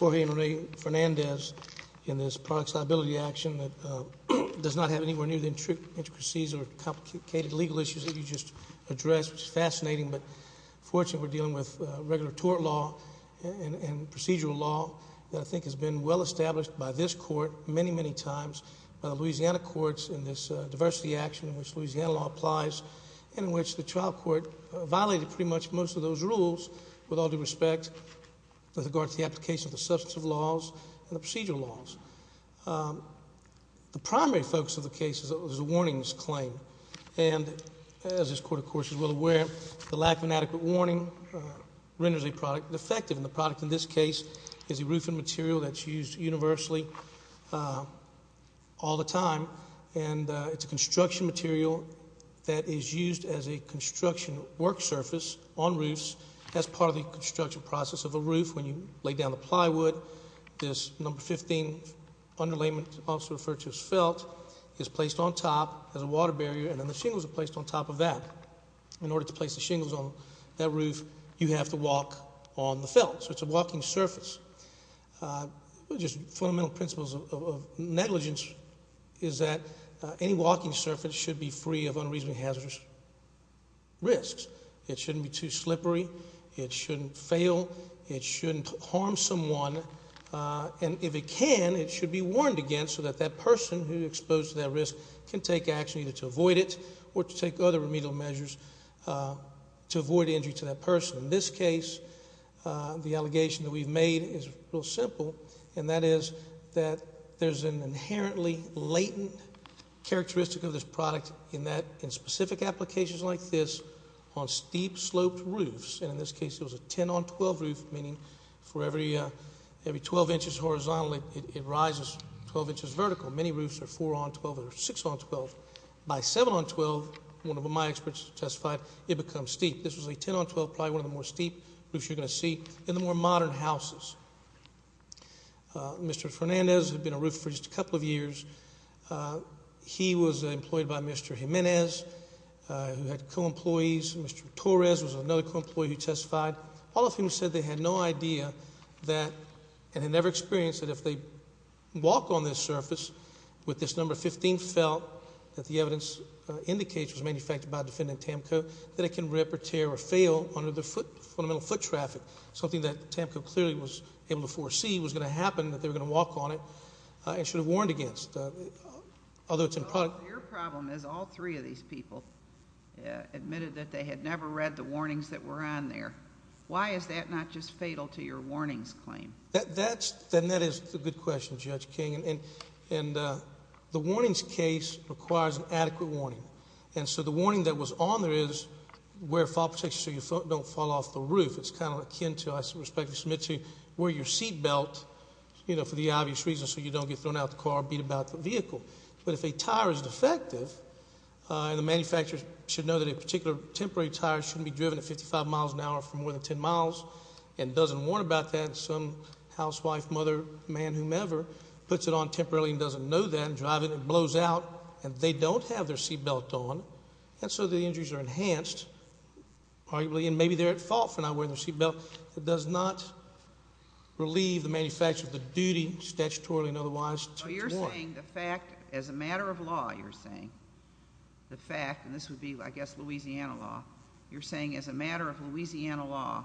Jorge and Ray Fernandez in this product liability action that does not have anywhere near the intricacies or complicated legal issues that you just addressed which is fascinating but fortunately we're dealing with regular tort law and procedural law that I think has been well established by this court many many times by the Louisiana courts in this diversity action in which Louisiana law applies and in which the trial court violated pretty much most of those rules with all due respect with regard to the application of the substantive laws and the procedural laws. The primary focus of the case is a warnings claim and as this court of course is well aware the lack of inadequate warning renders a product defective and the product in this case is a roofing material that's used universally all the time and it's a construction material that is used as a construction work surface on roofs as part of the construction process of a roof when you lay down the plywood this number 15 underlayment also referred to as felt is placed on top as a water barrier and then the shingles are placed on top of that. In order to place the shingles on that roof you have to walk on the felt so it's a walking surface. Just fundamental principles of negligence is that any walking surface should be free of unreasonable hazardous risks. It shouldn't be too slippery, it shouldn't fail, it shouldn't harm someone and if it can it should be warned against so that that person who exposed to that risk can take action either to avoid it or to take other remedial measures to avoid injury to that person. In this case the allegation that we've made is real simple and that is that there's an inherently latent characteristic of this product in that in specific applications like this on steep sloped roofs and in this case it was a 10 on 12 roof meaning for every every 12 inches horizontally it rises 12 inches vertical many roofs are 4 on 12 or 6 on 12 by 7 on 12 one of my experts testified it becomes steep this was a 10 on 12 probably one of the more Mr. Fernandez had been a roof for just a couple of years he was employed by Mr. Jimenez who had co-employees Mr. Torres was another co-employee who testified all of whom said they had no idea that and had never experienced that if they walk on this surface with this number 15 felt that the evidence indicates was manufactured by defendant Tamco that it can rip or tear or fail under the foot fundamental foot traffic something that Tamco clearly was able to foresee was going to happen that they're going to walk on it and should have warned against although it's in product your problem is all three of these people admitted that they had never read the warnings that were on there why is that not just fatal to your warnings claim that that's then that is the good question judge King and and the warnings case requires an adequate warning and so the warning that was on there is where fall protection so you don't fall off the roof it's kind of akin to I respect to submit to where your seatbelt you know for the obvious reason so you don't get thrown out the car beat about the vehicle but if a tire is defective and the manufacturers should know that a particular temporary tire shouldn't be driven at 55 miles an hour for more than 10 miles and doesn't warn about that some housewife mother man whomever puts it on temporarily and doesn't know that and drive it and blows out and they don't have their seatbelt on and so the injuries are enhanced arguably and maybe they're at fault for not wearing the seatbelt it does not relieve the manufacturer of the duty statutorily and otherwise you're saying the fact as a matter of law you're saying the fact and this would be I guess Louisiana law you're saying as a matter of Louisiana law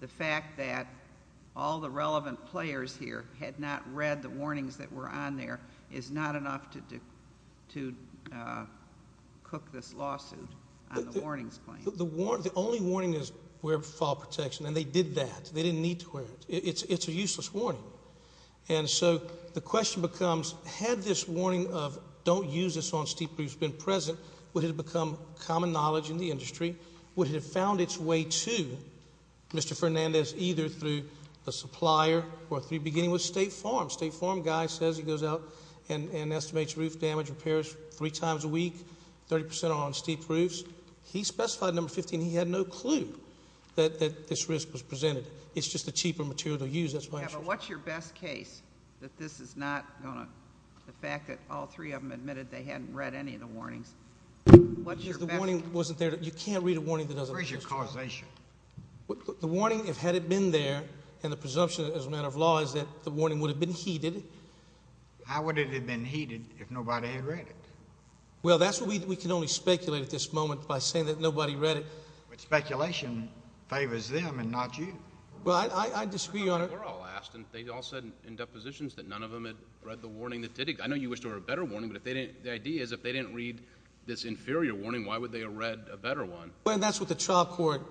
the fact that all the relevant players here had not read the warnings that were on there is not enough to to cook this lawsuit the warnings the war the only warning is where fall protection and they did that they didn't need to wear it it's it's a useless warning and so the question becomes had this warning of don't use this on steep roofs been present would have become common knowledge in the industry would have found its way to mr. Fernandez either through a supplier or three beginning with State Farm State Farm guy says he goes out and and estimates roof damage repairs three times a week 30% on steep roofs he specified number 15 he had no clue that that this risk was presented it's just a cheaper material to use that's what's your best case that this is not gonna the fact that all three of them admitted they hadn't read any of the warnings wasn't there you can't read a warning that doesn't raise your causation the warning if had it been there and the presumption as a matter of law is that the warning would have been heated how would it have been heated if nobody had read it well that's what we can only speculate at this moment by saying that nobody read it but speculation favors them and not you well I disagree on it they all said in depositions that none of them had read the warning that did it I know you wish to her a better warning but if they didn't the idea is if they didn't read this inferior warning why would they have read a better one well that's what the trial court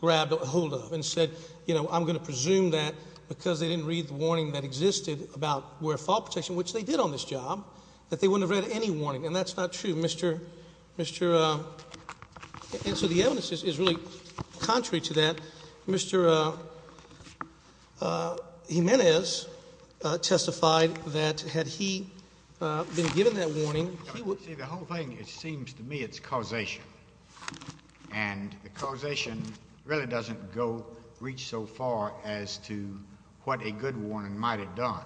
grabbed a hold of and said you know I'm gonna presume that because they didn't read the warning that existed about where fault protection which they did on this job that they wouldn't read any warning and that's not true mr. mr. answer the evidence is really contrary to that mr. Jimenez testified that had he been given that warning the whole thing it seems to me it's causation and the causation really doesn't go reach so far as to what a good warning might have done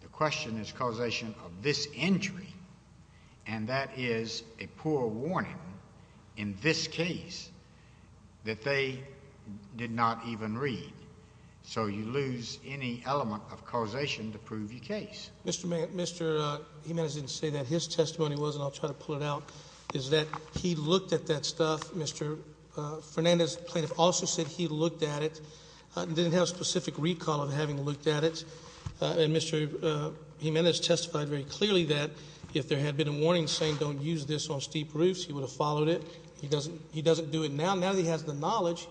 the question is causation of this injury and that is a poor warning in this case that they did not even read so you lose any element of causation to prove your case mr. man mr. Jimenez didn't say that his is that he looked at that stuff mr. Fernandez plaintiff also said he looked at it didn't have specific recall of having looked at it and mr. Jimenez testified very clearly that if there had been a warning saying don't use this on steep roofs he would have followed it he doesn't he doesn't do it now now he has the knowledge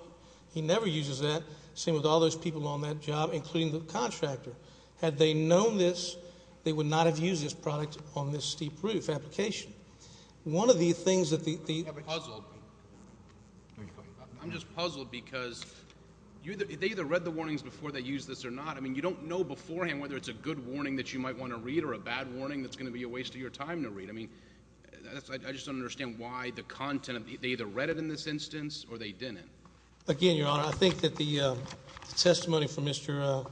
he never uses that same with all those people on that job including the contractor had they known this they would not have used this on this steep roof application one of the things that the I'm just puzzled because you either read the warnings before they use this or not I mean you don't know beforehand whether it's a good warning that you might want to read or a bad warning that's gonna be a waste of your time to read I mean I just don't understand why the content of the either read it in this instance or they didn't again your honor I think that the testimony from mr.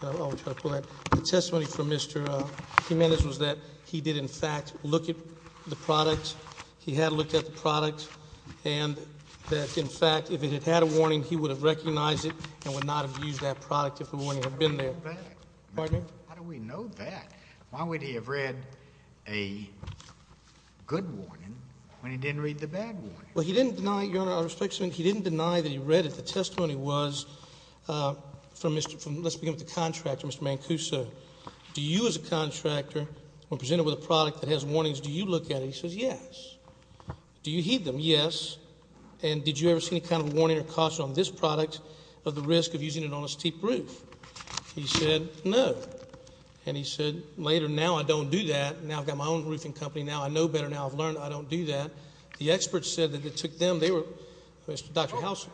testimony from mr. Jimenez was that he did in fact look at the product he had looked at the product and that in fact if it had had a warning he would have recognized it and would not have used that product if the warning had been there why would he have read a good warning when he didn't read the bad well he didn't deny your honor our inspection he didn't deny that he read it the testimony was from mr. from was a contractor when presented with a product that has warnings do you look at he says yes do you heed them yes and did you ever see any kind of warning or caution on this product of the risk of using it on a steep roof he said no and he said later now I don't do that now I've got my own roofing company now I know better now I've learned I don't do that the experts said that it took them they were mr. Dr. Houser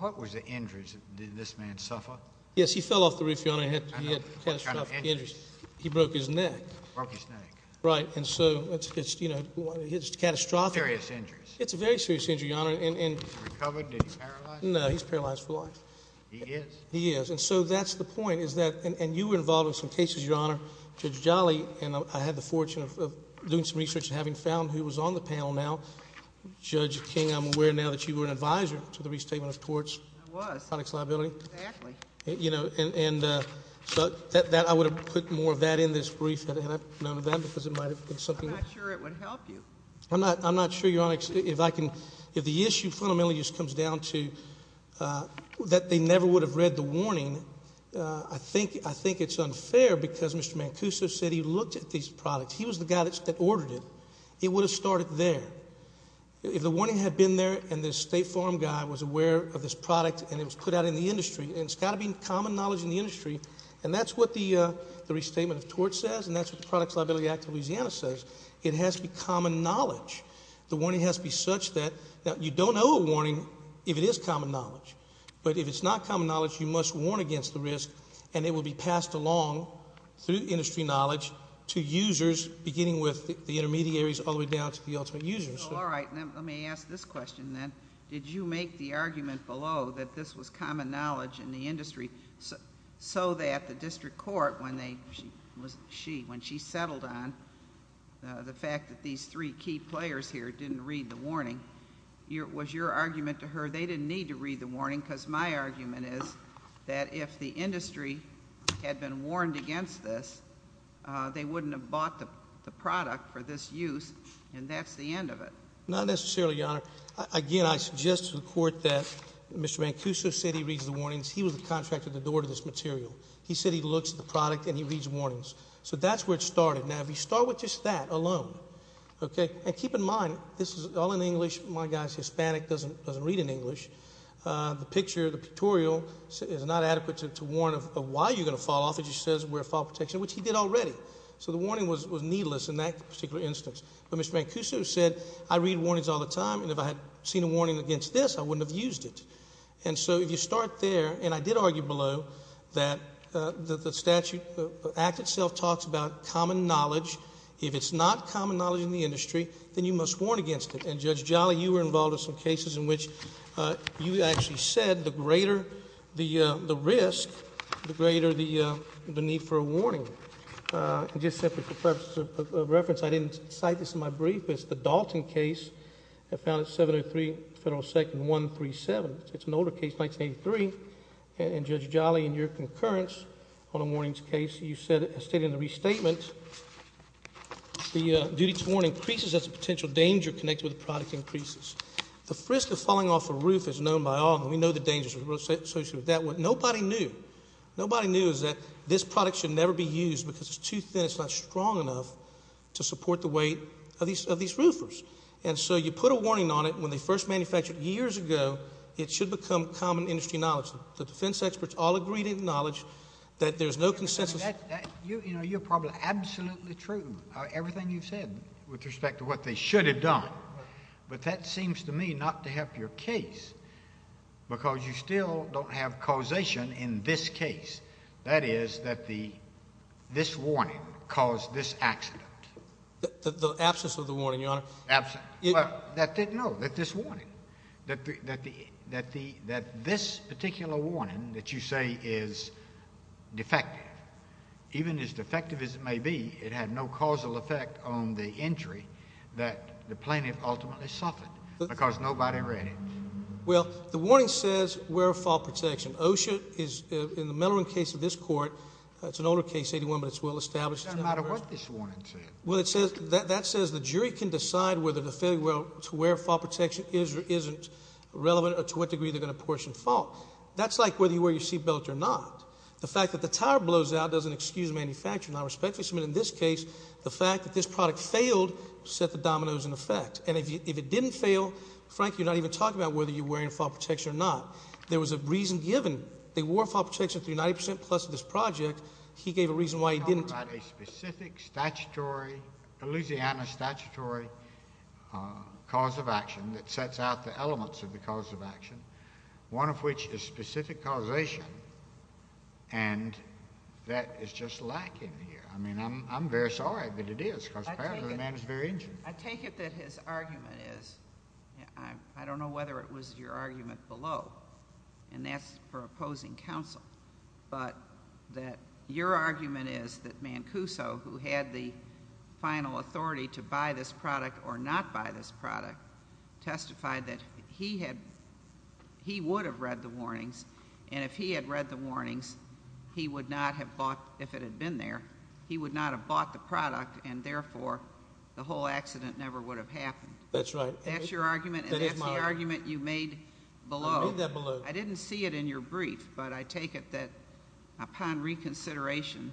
what was the injuries did this man suffer yes he fell off the roof he broke his neck right and so it's just you know it's catastrophic serious injuries it's a very serious injury honor and no he's paralyzed for life yes he is and so that's the point is that and you were involved in some cases your honor judge Jolly and I had the fortune of doing some research having found who was on the panel now judge King I'm aware now that you were an advisor to the restatement of torts you know and so that I would have put more of that in this brief I'm not I'm not sure you're honest if I can if the issue fundamentally just comes down to that they never would have read the warning I think I think it's unfair because mr. Mancuso said he looked at these products he was the guy that ordered it he would have started there if the warning had been there and this State Farm guy was aware of this product and it was put out in the industry and it's got to be common knowledge in the industry and that's what the the restatement of tort says and that's what the Products Liability Act of Louisiana says it has to be common knowledge the warning has to be such that now you don't know a warning if it is common knowledge but if it's not common knowledge you must warn against the risk and it will be passed along through industry knowledge to the ultimate users all right let me ask this question then did you make the argument below that this was common knowledge in the industry so that the district court when they she when she settled on the fact that these three key players here didn't read the warning your was your argument to her they didn't need to read the warning because my argument is that if the industry had been warned against this they wouldn't have bought the product for this use and that's the end of it not necessarily your honor again I suggest to the court that mr. Mancuso said he reads the warnings he was a contractor the door to this material he said he looks at the product and he reads warnings so that's where it started now if you start with just that alone okay and keep in mind this is all in English my guys Hispanic doesn't doesn't read in English the picture the pictorial is not adequate to warn of why you're gonna fall off it just says we're a file protection which he did already so the warning was was particular instance but mr. Mancuso said I read warnings all the time and if I had seen a warning against this I wouldn't have used it and so if you start there and I did argue below that the statute act itself talks about common knowledge if it's not common knowledge in the industry then you must warn against it and judge Jolly you were involved in some cases in which you actually said the greater the the risk the greater the need for a warning just reference I didn't cite this in my brief it's the Dalton case I found at 703 federal second 137 it's an older case 1983 and judge Jolly and your concurrence on a warnings case you said it stated in the restatement the duty to warn increases as a potential danger connected with product increases the frisk of falling off a roof is known by all we know the dangers associated with that what nobody knew nobody knew is that this product should never be used because it's too thin it's not strong enough to support the weight of these of these roofers and so you put a warning on it when they first manufactured years ago it should become common industry knowledge the defense experts all agreed in knowledge that there's no consensus you know you're probably absolutely true everything you've said with respect to what they should have done but that seems to me not to have your case because you still don't have causation in this case that is that the this warning caused this accident the absence of the warning your honor absolutely that didn't know that this warning that the that the that the that this particular warning that you say is defective even as defective as it may be it had no causal effect on the injury that the plaintiff ultimately suffered because nobody read it well the warning says wear fall protection OSHA is in the Mellorin case of this court it's an older case 81 but it's well established well it says that that says the jury can decide whether the failure to wear fall protection is or isn't relevant or to what degree they're gonna portion fault that's like whether you wear your seat belt or not the fact that the tire blows out doesn't excuse manufacturing I respectfully submit in this case the fact that this product failed set the dominoes in effect and if it didn't fail Frank you're not even talking about whether you're wearing a fall protection or not there was a reason given they wore fall protection through 90% plus of this project he gave a reason why he didn't about a specific statutory Louisiana statutory cause of action that sets out the elements of the cause of action one of which is specific causation and that is just lacking here I mean I'm very sorry but it is I take it that his argument is I don't know whether it was your argument below and that's for opposing counsel but that your argument is that Mancuso who had the final authority to buy this product or not buy this product testified that he had he would have read the warnings and if he had read the warnings he would not have bought if it had been there he would not have bought the product and therefore the whole accident never would have happened that's right that's your argument that is my argument you made below that below I didn't see it in your brief but I take it that upon reconsideration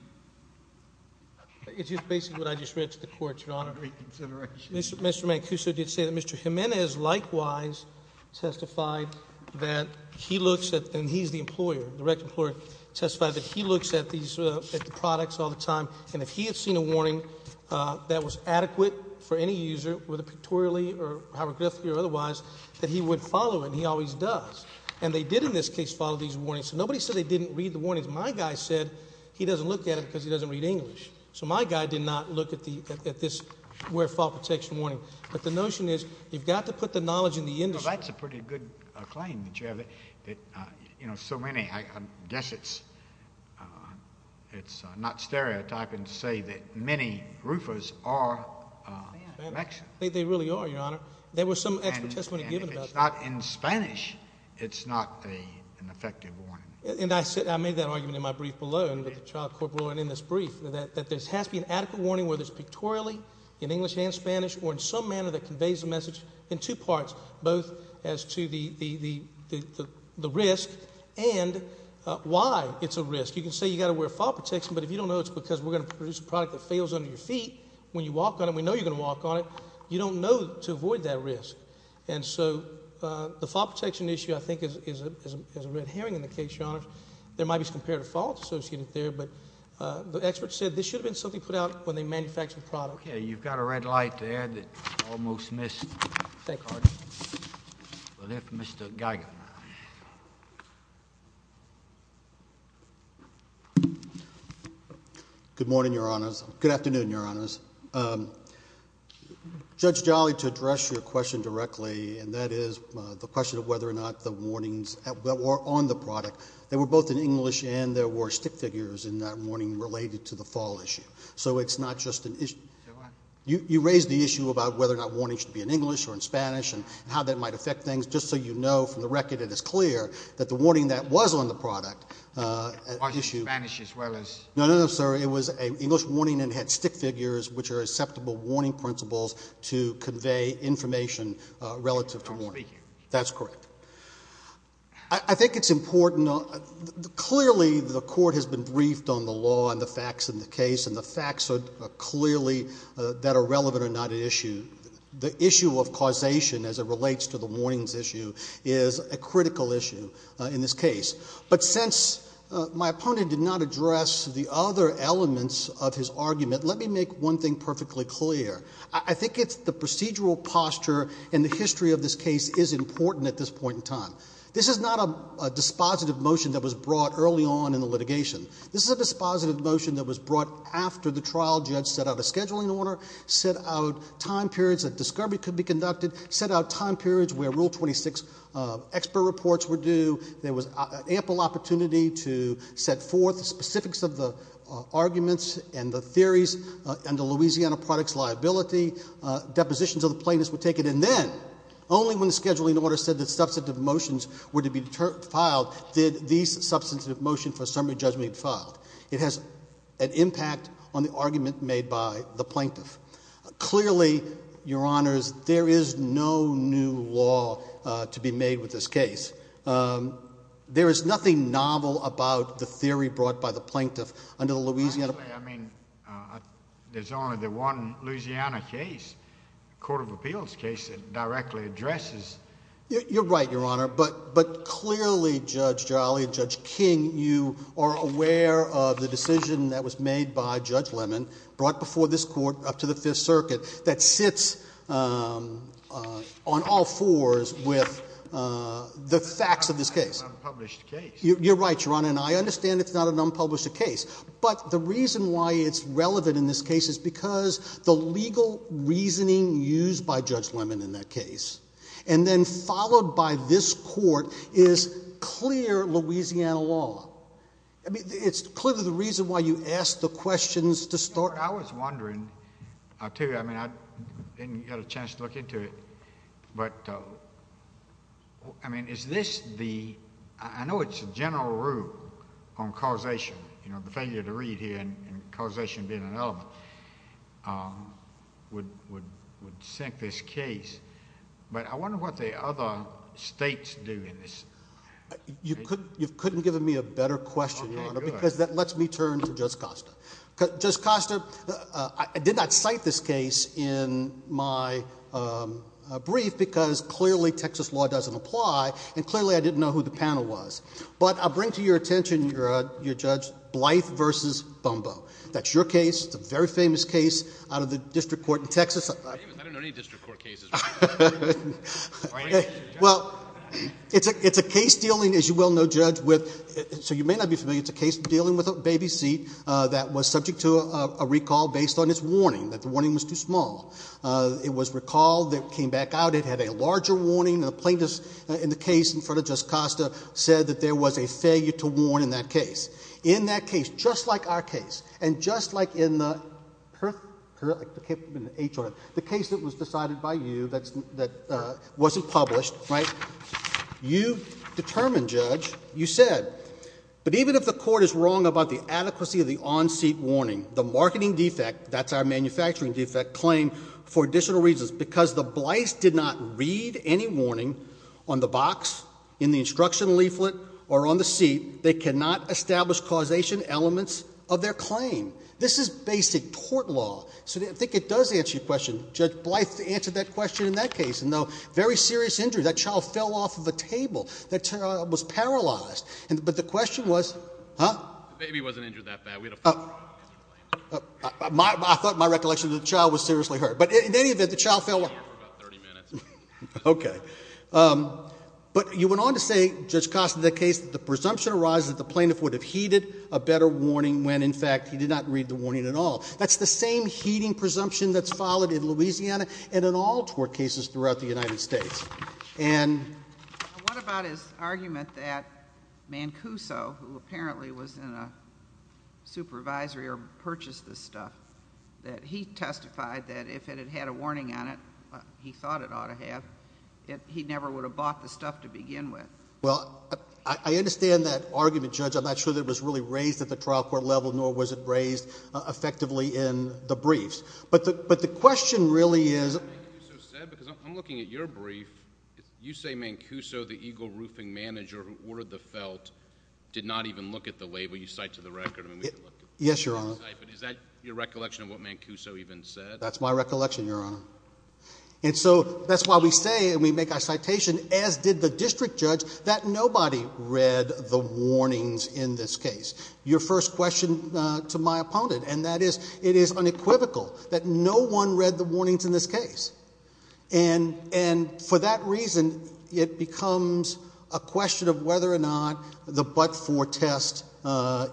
it's just basically what I just read to the court your honor reconsideration mr. Mancuso did say that mr. Jimenez likewise testified that he looks at and he's the employer the record employer testified that he looks at these products all the time and if he had seen a warning that was adequate for any user with a pictorially or hieroglyphically or otherwise that he would follow and he always does and they did in this case follow these warnings so nobody said they didn't read the warnings my guy said he doesn't look at it because he doesn't read English so my guy did not look at the at this where fault protection warning but the notion is you've got to put the knowledge in the industry that's a pretty good claim you know so many I guess it's it's not stereotyping to say that many roofers are they really are your honor there was some not in Spanish it's not an effective one and I said I made that argument in my brief below and with the child corporate and in this brief that that this has to be an adequate warning where there's pictorially in English and Spanish or in some manner that conveys the message in two parts both as to the the the risk and why it's a risk you can say you got to wear fault protection but if you don't know it's because we're gonna produce a product that fails under your feet when you walk on it we know you're gonna walk on it you don't know to avoid that risk and so the fault protection issue I think is a red herring in the case your honor there might be some comparative faults associated there but the experts said this should have been something put out when they manufactured product yeah you've got a red light there that almost missed thank God but if mr. Geiger good morning your honors good afternoon your honors judge Jolly to address your question directly and that is the question of whether or not the warnings that were on the product they were both in English and there were stick figures in that morning related to the fall issue so it's not just an issue you raised the issue about whether or not warning should be in English or in Spanish and how that might affect things just so you know from the record it is clear that the warning that was on the product issue as well as no no no sir it was a English warning and had stick figures which are acceptable warning principles to convey information relative to me that's correct I think it's important clearly the court has been briefed on the law and the facts in the case and the facts are clearly that are relevant or not an issue the issue of causation as it relates to the warnings issue is a critical issue in this case but since my opponent did not address the other elements of his argument let me make one thing perfectly clear I think it's the procedural posture and the history of this case is important at this point in time this is not a dispositive motion that was brought early on in the litigation this is a dispositive motion that was brought after the trial judge set out a scheduling order set out time periods that discovery could be conducted set out time periods where rule 26 expert reports were due there was ample opportunity to set forth specifics of the arguments and the theories and the Louisiana products liability depositions of the plaintiffs were taken and then only when the scheduling order said that substantive motions were to be filed did these substantive motion for summary judgment filed it has an impact on the argument made by the plaintiff clearly your honors there is no new law to be made with this case there is nothing novel about the theory brought by the plaintiff under the Louisiana I mean there's only the one Louisiana case Court of Appeals case it directly addresses you're right your honor but but clearly judge Jolly and judge King you are aware of the decision that was made by judge Lemon brought before this court up to the Fifth Circuit that sits on all fours with the facts of this case you're right your honor and I understand it's not an unpublished a case but the reason why it's relevant in this case is because the legal reasoning used by judge Lemon in that case and then followed by this court is clear Louisiana law I mean it's clearly the reason why you asked the questions to start I was wondering I'll tell you I mean I didn't get a chance to look into it but I mean is this the I know it's a general rule on causation you know the failure to read here and causation being an element would would sink this case but I wonder what the other states do in this you couldn't you've couldn't given me a better question because that lets me turn to judge Costa just Costa I did not cite this case in my brief because clearly Texas law doesn't apply and clearly I didn't know who the panel was but I'll bring to your attention your your judge Blythe versus Bumbo that's your case it's a very famous case out of the district court in Texas well it's a it's a case dealing as you well know judge with so you may not be familiar it's a case dealing with a baby seat that was subject to a recall based on his warning that the warning was too small it was recalled that came back out it had a larger warning the plaintiffs in the case in front of just Costa said that there was a failure to warn in that case in that case just like our case and just like in the HR the case that was decided by you that's that wasn't published right you determined judge you said but even if the court is wrong about the adequacy of the on-seat warning the marketing defect that's our manufacturing defect claim for additional reasons because the Blythe did not read any warning on the box in the instruction leaflet or on the seat they cannot establish causation elements of their claim this is basic court law so I think it does answer your question judge Blythe to answer that question in that case and though very serious injury that child fell off of a table that was paralyzed and but the question was huh I thought my recollection of the child was seriously hurt but in any event the child fell okay but you went on to say just cost of the case the presumption arises that the plaintiff would have heeded a better warning when in fact he did not read the warning at all that's the same heating presumption that's followed in Louisiana and in all tort cases throughout the United States and what about his argument that Mancuso who apparently was in a supervisory or purchased this stuff that he testified that if it had had a warning on it he thought it ought to have if he never would have bought the stuff to begin with well I understand that argument judge I'm not sure that was really raised at the trial court level nor was it raised effectively in the briefs but the but the question really is you say Mancuso the Eagle roofing manager who ordered the felt did not even look at the label you cite to the record yes your honor your recollection of what Mancuso even said that's my recollection your honor and so that's why we say and we make our citation as did the district judge that nobody read the warnings in this case your first question to my opponent and that is it is unequivocal that no one read the warnings in this case and and for that reason it becomes a question of whether or not the but for test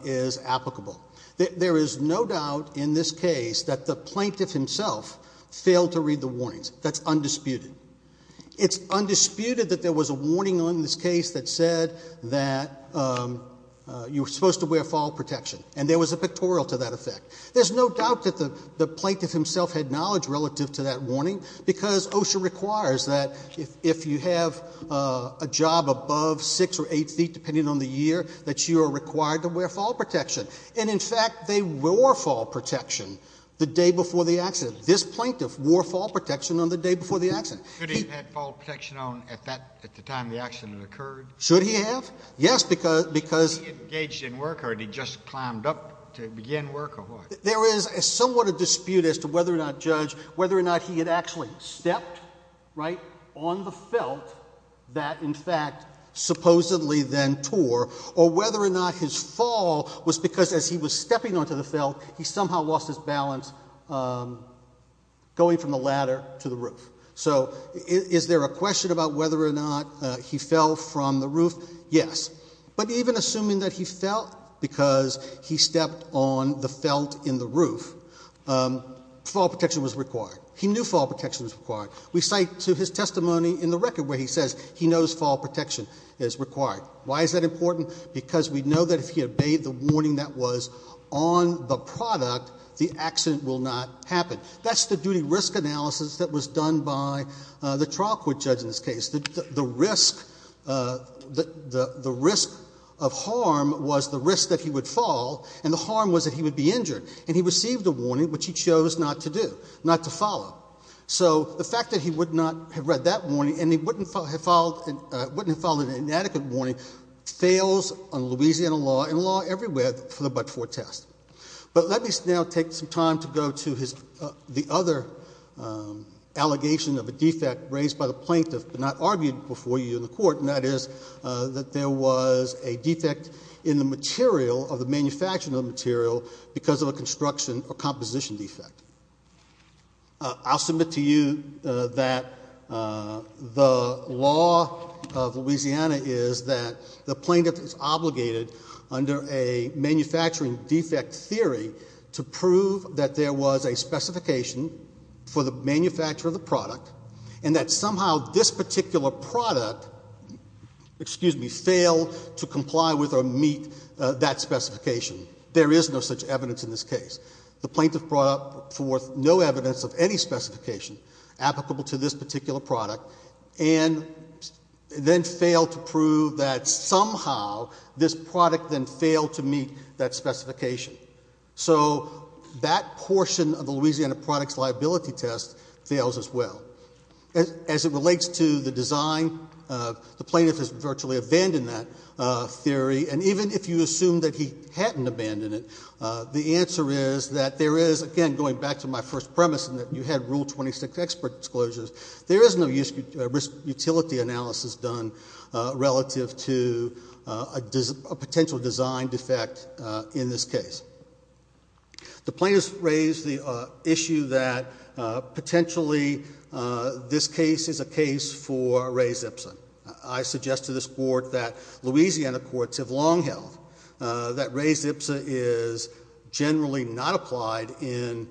is applicable there is no doubt in this case that the plaintiff himself failed to read the warnings that's undisputed it's undisputed that there was a warning on this case that said that you were supposed to wear fall protection and there was a pictorial to that effect there's no doubt that the the plaintiff himself had knowledge relative to that warning because OSHA requires that if you have a job above six or eight feet depending on the year that you are fall protection and in fact they wore fall protection the day before the accident this plaintiff wore fall protection on the day before the accident protection on at that at the time the accident occurred should he have yes because because engaged in work or he just climbed up to begin work there is somewhat a dispute as to whether or not judge whether or not he had actually stepped right on the felt that in fact supposedly then tore or whether or not his fall was because as he was stepping onto the felt he somehow lost his balance going from the ladder to the roof so is there a question about whether or not he fell from the roof yes but even assuming that he felt because he stepped on the felt in the roof fall protection was required he knew fall protection was required we cite to his testimony in the record where he says he know that if he obeyed the warning that was on the product the accident will not happen that's the duty risk analysis that was done by the trial court judge in this case the risk that the the risk of harm was the risk that he would fall and the harm was that he would be injured and he received a warning which he chose not to do not to follow so the fact that he would not have read that warning and he wouldn't have followed and wouldn't have followed an inadequate warning fails on Louisiana law and law everywhere for the but-for test but let me now take some time to go to his the other allegation of a defect raised by the plaintiff but not argued before you in the court and that is that there was a defect in the material of the manufacturing of material because of a construction or composition defect I'll submit to you that the law of Louisiana is that the plaintiff is obligated under a manufacturing defect theory to prove that there was a specification for the manufacture of the product and that somehow this particular product excuse me failed to comply with or meet that specification there is no such evidence in this case the plaintiff brought forth no evidence of any specification applicable to this particular product and then failed to prove that somehow this product then failed to meet that specification so that portion of the Louisiana products liability test fails as well as it relates to the design of the plaintiff is virtually abandoned that theory and even if you assume that he hadn't abandoned it the answer is that there is again going back to my first premise and that you had rule 26 expert disclosures there is no use of risk utility analysis done relative to a potential design defect in this case the plaintiffs raised the issue that potentially this case is a case for a raised Ipsa I suggest to this board that Louisiana courts have long held that raised Ipsa is generally not applied in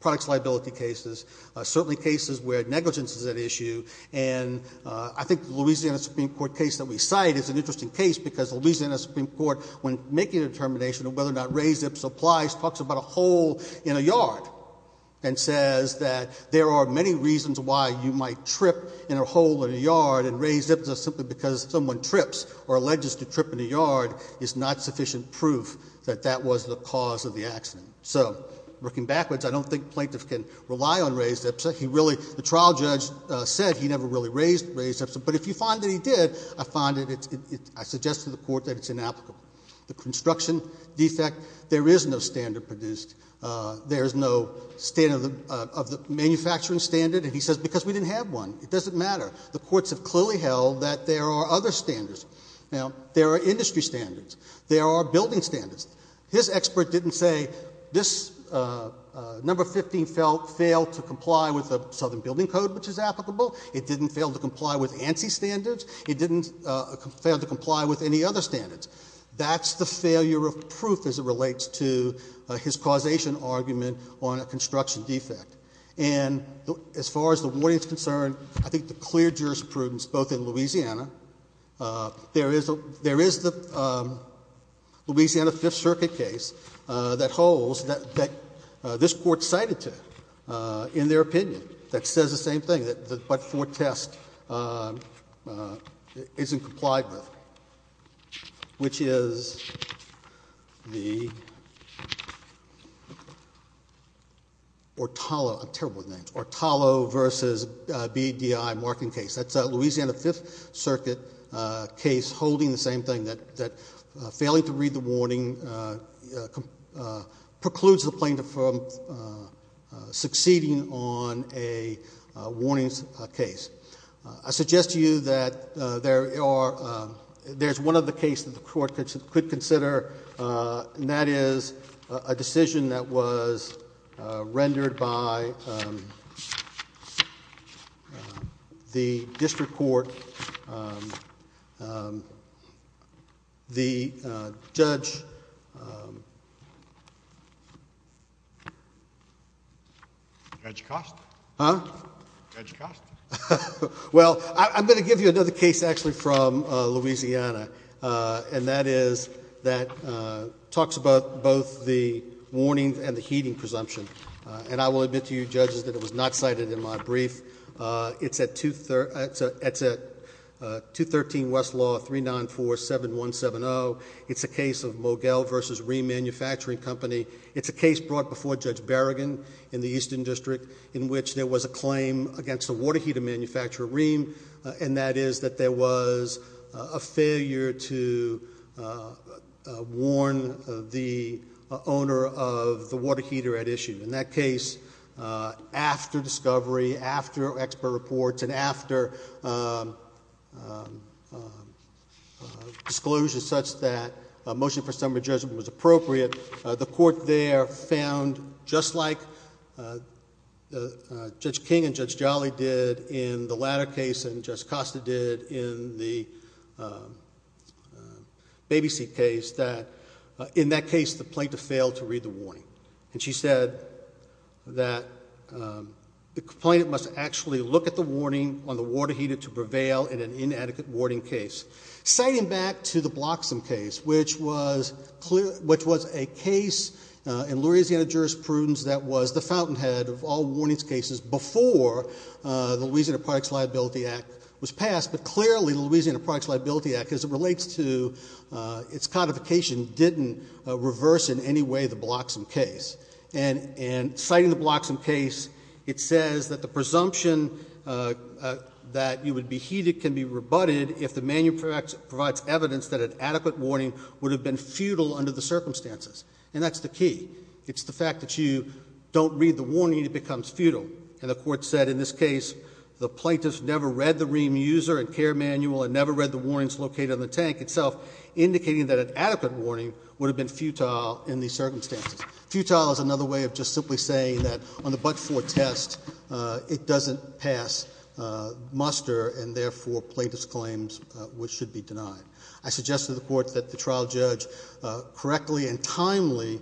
products liability cases certainly cases where negligence is at issue and I think Louisiana Supreme Court case that we cite is an interesting case because Louisiana Supreme Court when making a determination of whether or not raised Ipsa applies talks about a hole in a yard and says that there are many reasons why you might trip in a hole in a yard and raised Ipsa simply because someone trips or alleges to trip in a yard is not sufficient proof that that was the cause of the accident so working backwards I don't think plaintiffs can rely on raised Ipsa he really the trial judge said he never really raised raised Ipsa but if you find that he did I find it I suggest to the court that it's inapplicable the construction defect there is no standard produced there is no standard of the manufacturing standard and he says because we didn't have one it doesn't matter the courts have clearly held that there are other standards now there are industry standards there are building standards his expert didn't say this number 15 felt failed to comply with a southern building code which is applicable it didn't fail to comply with ANSI standards it didn't fail to comply with any other standards that's the failure of proof as it relates to his causation argument on a construction defect and as far as the warning is concerned I think the clear jurisprudence both in Louisiana there is a there is the Louisiana Fifth Circuit case that holds that this court cited to in their opinion that says the same thing that but for test isn't complied with which is the or Tala versus BDI marking case that's a Louisiana Fifth Circuit case holding the same thing that that failing to read the warning precludes the plaintiff from succeeding on a warnings case I suggest to you that there are there's one of the case that the court could consider and that is a decision that was rendered by the district court the judge well I'm going to give you another case actually from Louisiana and that is that talks about both the warnings and the heating presumption and I will admit to you judges that it was not cited in my brief it's at 213 Westlaw 3947170 it's a case of Mogel versus Rheem Manufacturing Company it's a case brought before Judge Berrigan in the Eastern District in which there was a claim against a water heater manufacturer Rheem and that is that there was a failure to warn the owner of the water heater at issue in that case after discovery after expert reports and after disclosures such that a motion for summary judgment was appropriate the court there found just like Judge King and Judge Jolly did in the latter case and Judge Costa did in the baby seat case that in that case the plaintiff failed to read the warning and she said that the complainant must actually look at the warning on the water heater to prevail in an inadequate warning case citing back to the Bloxham case which was a case in Louisiana jurisprudence that was the fountainhead of all warnings cases before the Louisiana Products Liability Act was passed but clearly the Louisiana Products Liability Act as it relates to its codification didn't reverse in any way the Bloxham case and citing the Bloxham case it says that the presumption that you would be heated can be rebutted if the manual provides evidence that an adequate warning would have been futile under the circumstances and that's the key it's the fact that you don't read the warning it becomes futile and the court said in this case the plaintiffs never read the Rheem user and care manual and never read the warnings located on the tank itself indicating that an adequate warning would have been futile in these circumstances. Futile is another way of just simply saying that on the but-for test it doesn't pass muster and therefore plaintiffs claims which should be denied. I suggest to the court that the trial judge correctly and timely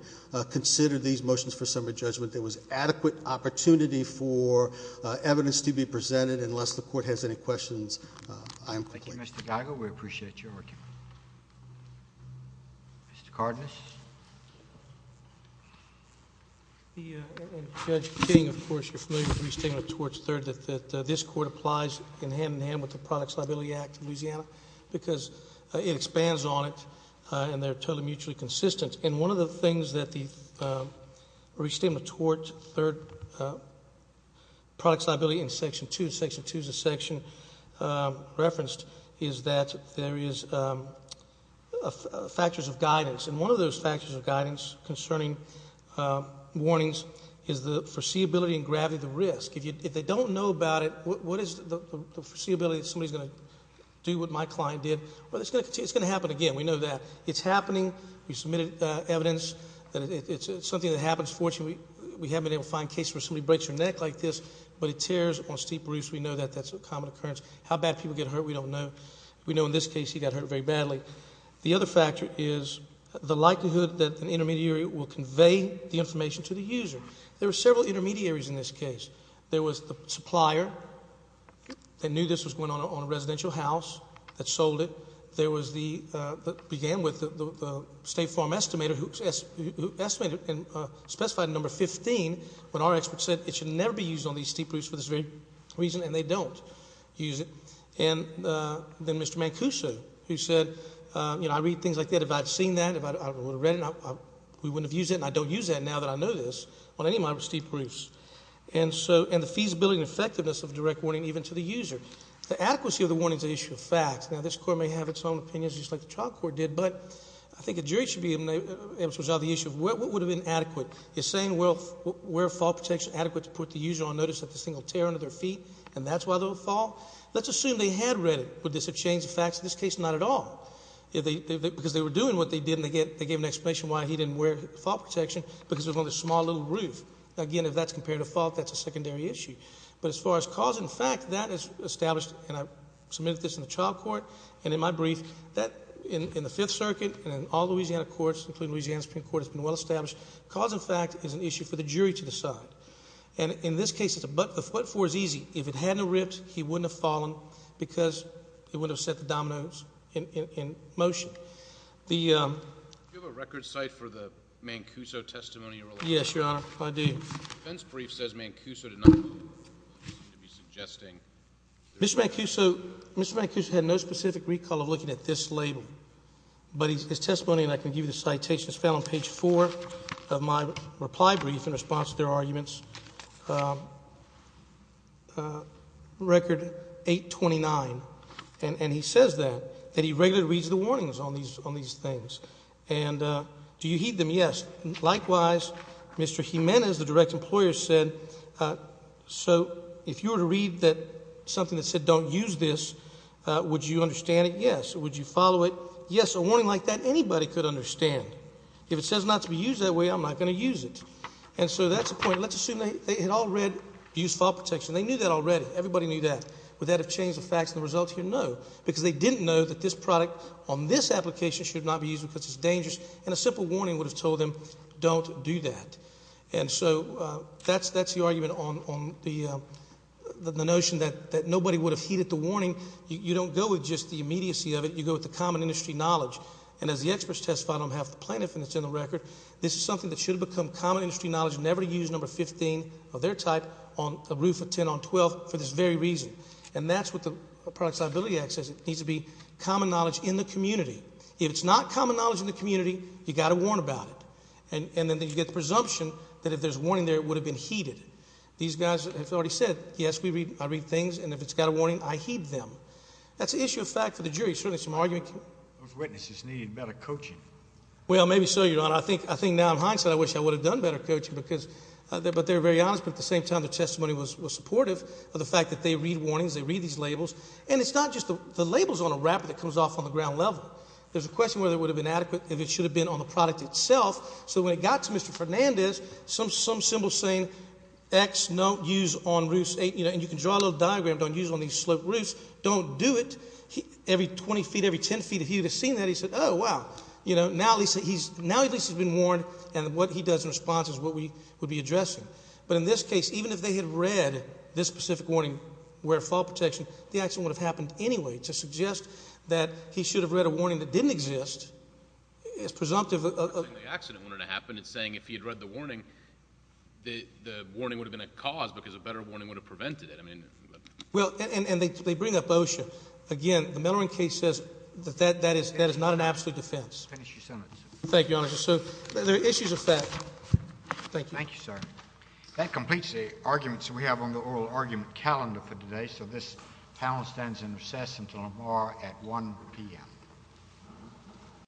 consider these motions for summary judgment there was adequate opportunity for evidence to be presented unless the court has any questions. Thank you Mr. Geiger, we appreciate your argument. Mr. Cardenas. Judge King, of course, you're familiar with Restatement of Torts 3rd that this court applies in hand-in-hand with the Products Liability Act of Louisiana because it expands on it and they're totally mutually consistent and one of the things that the Restatement of Torts 3rd Products Liability in section 2, section 2 is a section referenced is that there is factors of guidance and one of those factors of guidance concerning warnings is the foreseeability and gravity of the risk. If they don't know about it, what is the foreseeability that somebody's going to do what my client did, well it's going to happen again, we know that. It's happening, we submitted evidence that it's something that happens, fortunately we haven't been able to find a case where somebody breaks their neck like this but it tears on steep roofs, we know that that's a common occurrence. How bad people get hurt we don't know. We know in this case he got hurt very badly. The other factor is the likelihood that an intermediary will convey the information to the user. There are several intermediaries in this case. There was the supplier that knew this was going on a residential house that sold it. There was the, that began with the State Farm Estimator who estimated and specified number 15 when our expert said it should never be used on these steep roofs for this very reason and they don't use it. And then Mr. Mancuso who said, you know, I read things like that. If I had seen that, if I would have read it, we wouldn't have used it and I don't use that now that I know this on any of my steep roofs. And so, and the feasibility and effectiveness of direct warning even to the user. The adequacy of the warning is an issue of fact. Now this court may have its own opinions just like the trial court did but I think a jury should be able to resolve the issue of what would have been adequate. Is saying where fall protection is adequate to put the user on notice that this thing will tear under their feet and that's why they'll fall? Let's assume they had read it. Would this have changed the facts? In this case, not at all. If they, because they were doing what they did and they gave an explanation why he didn't wear fall protection because it was on this small little roof. Again, if that's compared to fall, that's a secondary issue. But as far as cause and fact, that is established and I submitted this in the trial court and in my brief that in the Fifth Circuit and in all Louisiana courts, including Louisiana Supreme Court, it's been well established. Cause and fact is an issue for the jury to decide. And in this case, what for is easy. If it hadn't have ripped, he wouldn't have fallen because he wouldn't have set the dominoes in motion. Do you have a record cite for the Mancuso testimony? Yes, Your Honor, I do. The defense brief says Mancuso did not seem to be suggesting. Mr. Mancuso, Mr. Mancuso had no specific recall of looking at this label. But his testimony, and I can give you the citation, is found on page four of my reply brief in response to their arguments. Record 829. And he says that, that he regularly reads the warnings on these things. And do you heed them? Yes. Likewise, Mr. Jimenez, the direct employer, said, so if you were to read something that said don't use this, would you understand it? Yes. Would you follow it? Yes. A warning like that, anybody could understand. If it says not to be used that way, I'm not going to use it. And so that's the point. Let's assume they had all read abuse file protection. They knew that already. Everybody knew that. Would that have changed the facts and the results here? No. Because they didn't know that this product on this application should not be used because it's dangerous. And a simple warning would have told them don't do that. And so that's the argument on the notion that nobody would have heeded the warning. You don't go with just the immediacy of it. You go with the common industry knowledge. And as the experts testified on half the plaintiff, and it's in the record, this is something that should have become common industry knowledge. Never use number 15 of their type on a roof of 10 on 12th for this very reason. And that's what the Product Solvability Act says. It needs to be common knowledge in the community. If it's not common knowledge in the community, you've got to warn about it. And then you get the presumption that if there's a warning there, it would have been heeded. These guys have already said, yes, I read things, and if it's got a warning, I heed them. That's an issue of fact for the jury, certainly some argument. Those witnesses need better coaching. Well, maybe so, Your Honor. I think now in hindsight I wish I would have done better coaching. But they were very honest, but at the same time their testimony was supportive of the fact that they read warnings, they read these labels. And it's not just the labels on a wrapper that comes off on the ground level. There's a question whether it would have been adequate if it should have been on the product itself. So when it got to Mr. Fernandez, some symbol saying X, don't use on roofs, and you can draw a little diagram, don't use on these sloped roofs. Don't do it. Every 20 feet, every 10 feet, if he would have seen that, he said, oh, wow. Now at least he's been warned, and what he does in response is what we would be addressing. But in this case, even if they had read this specific warning, wear fall protection, the accident would have happened anyway. To suggest that he should have read a warning that didn't exist is presumptive. The accident wouldn't have happened. It's saying if he had read the warning, the warning would have been a cause because a better warning would have prevented it. Well, and they bring up OSHA. Again, the Miller case says that that is not an absolute defense. Finish your sentence. Thank you, Your Honor. So there are issues of fact. Thank you. Thank you, sir. That completes the arguments we have on the oral argument calendar for today. So this panel stands in recess until tomorrow at 1 p.m.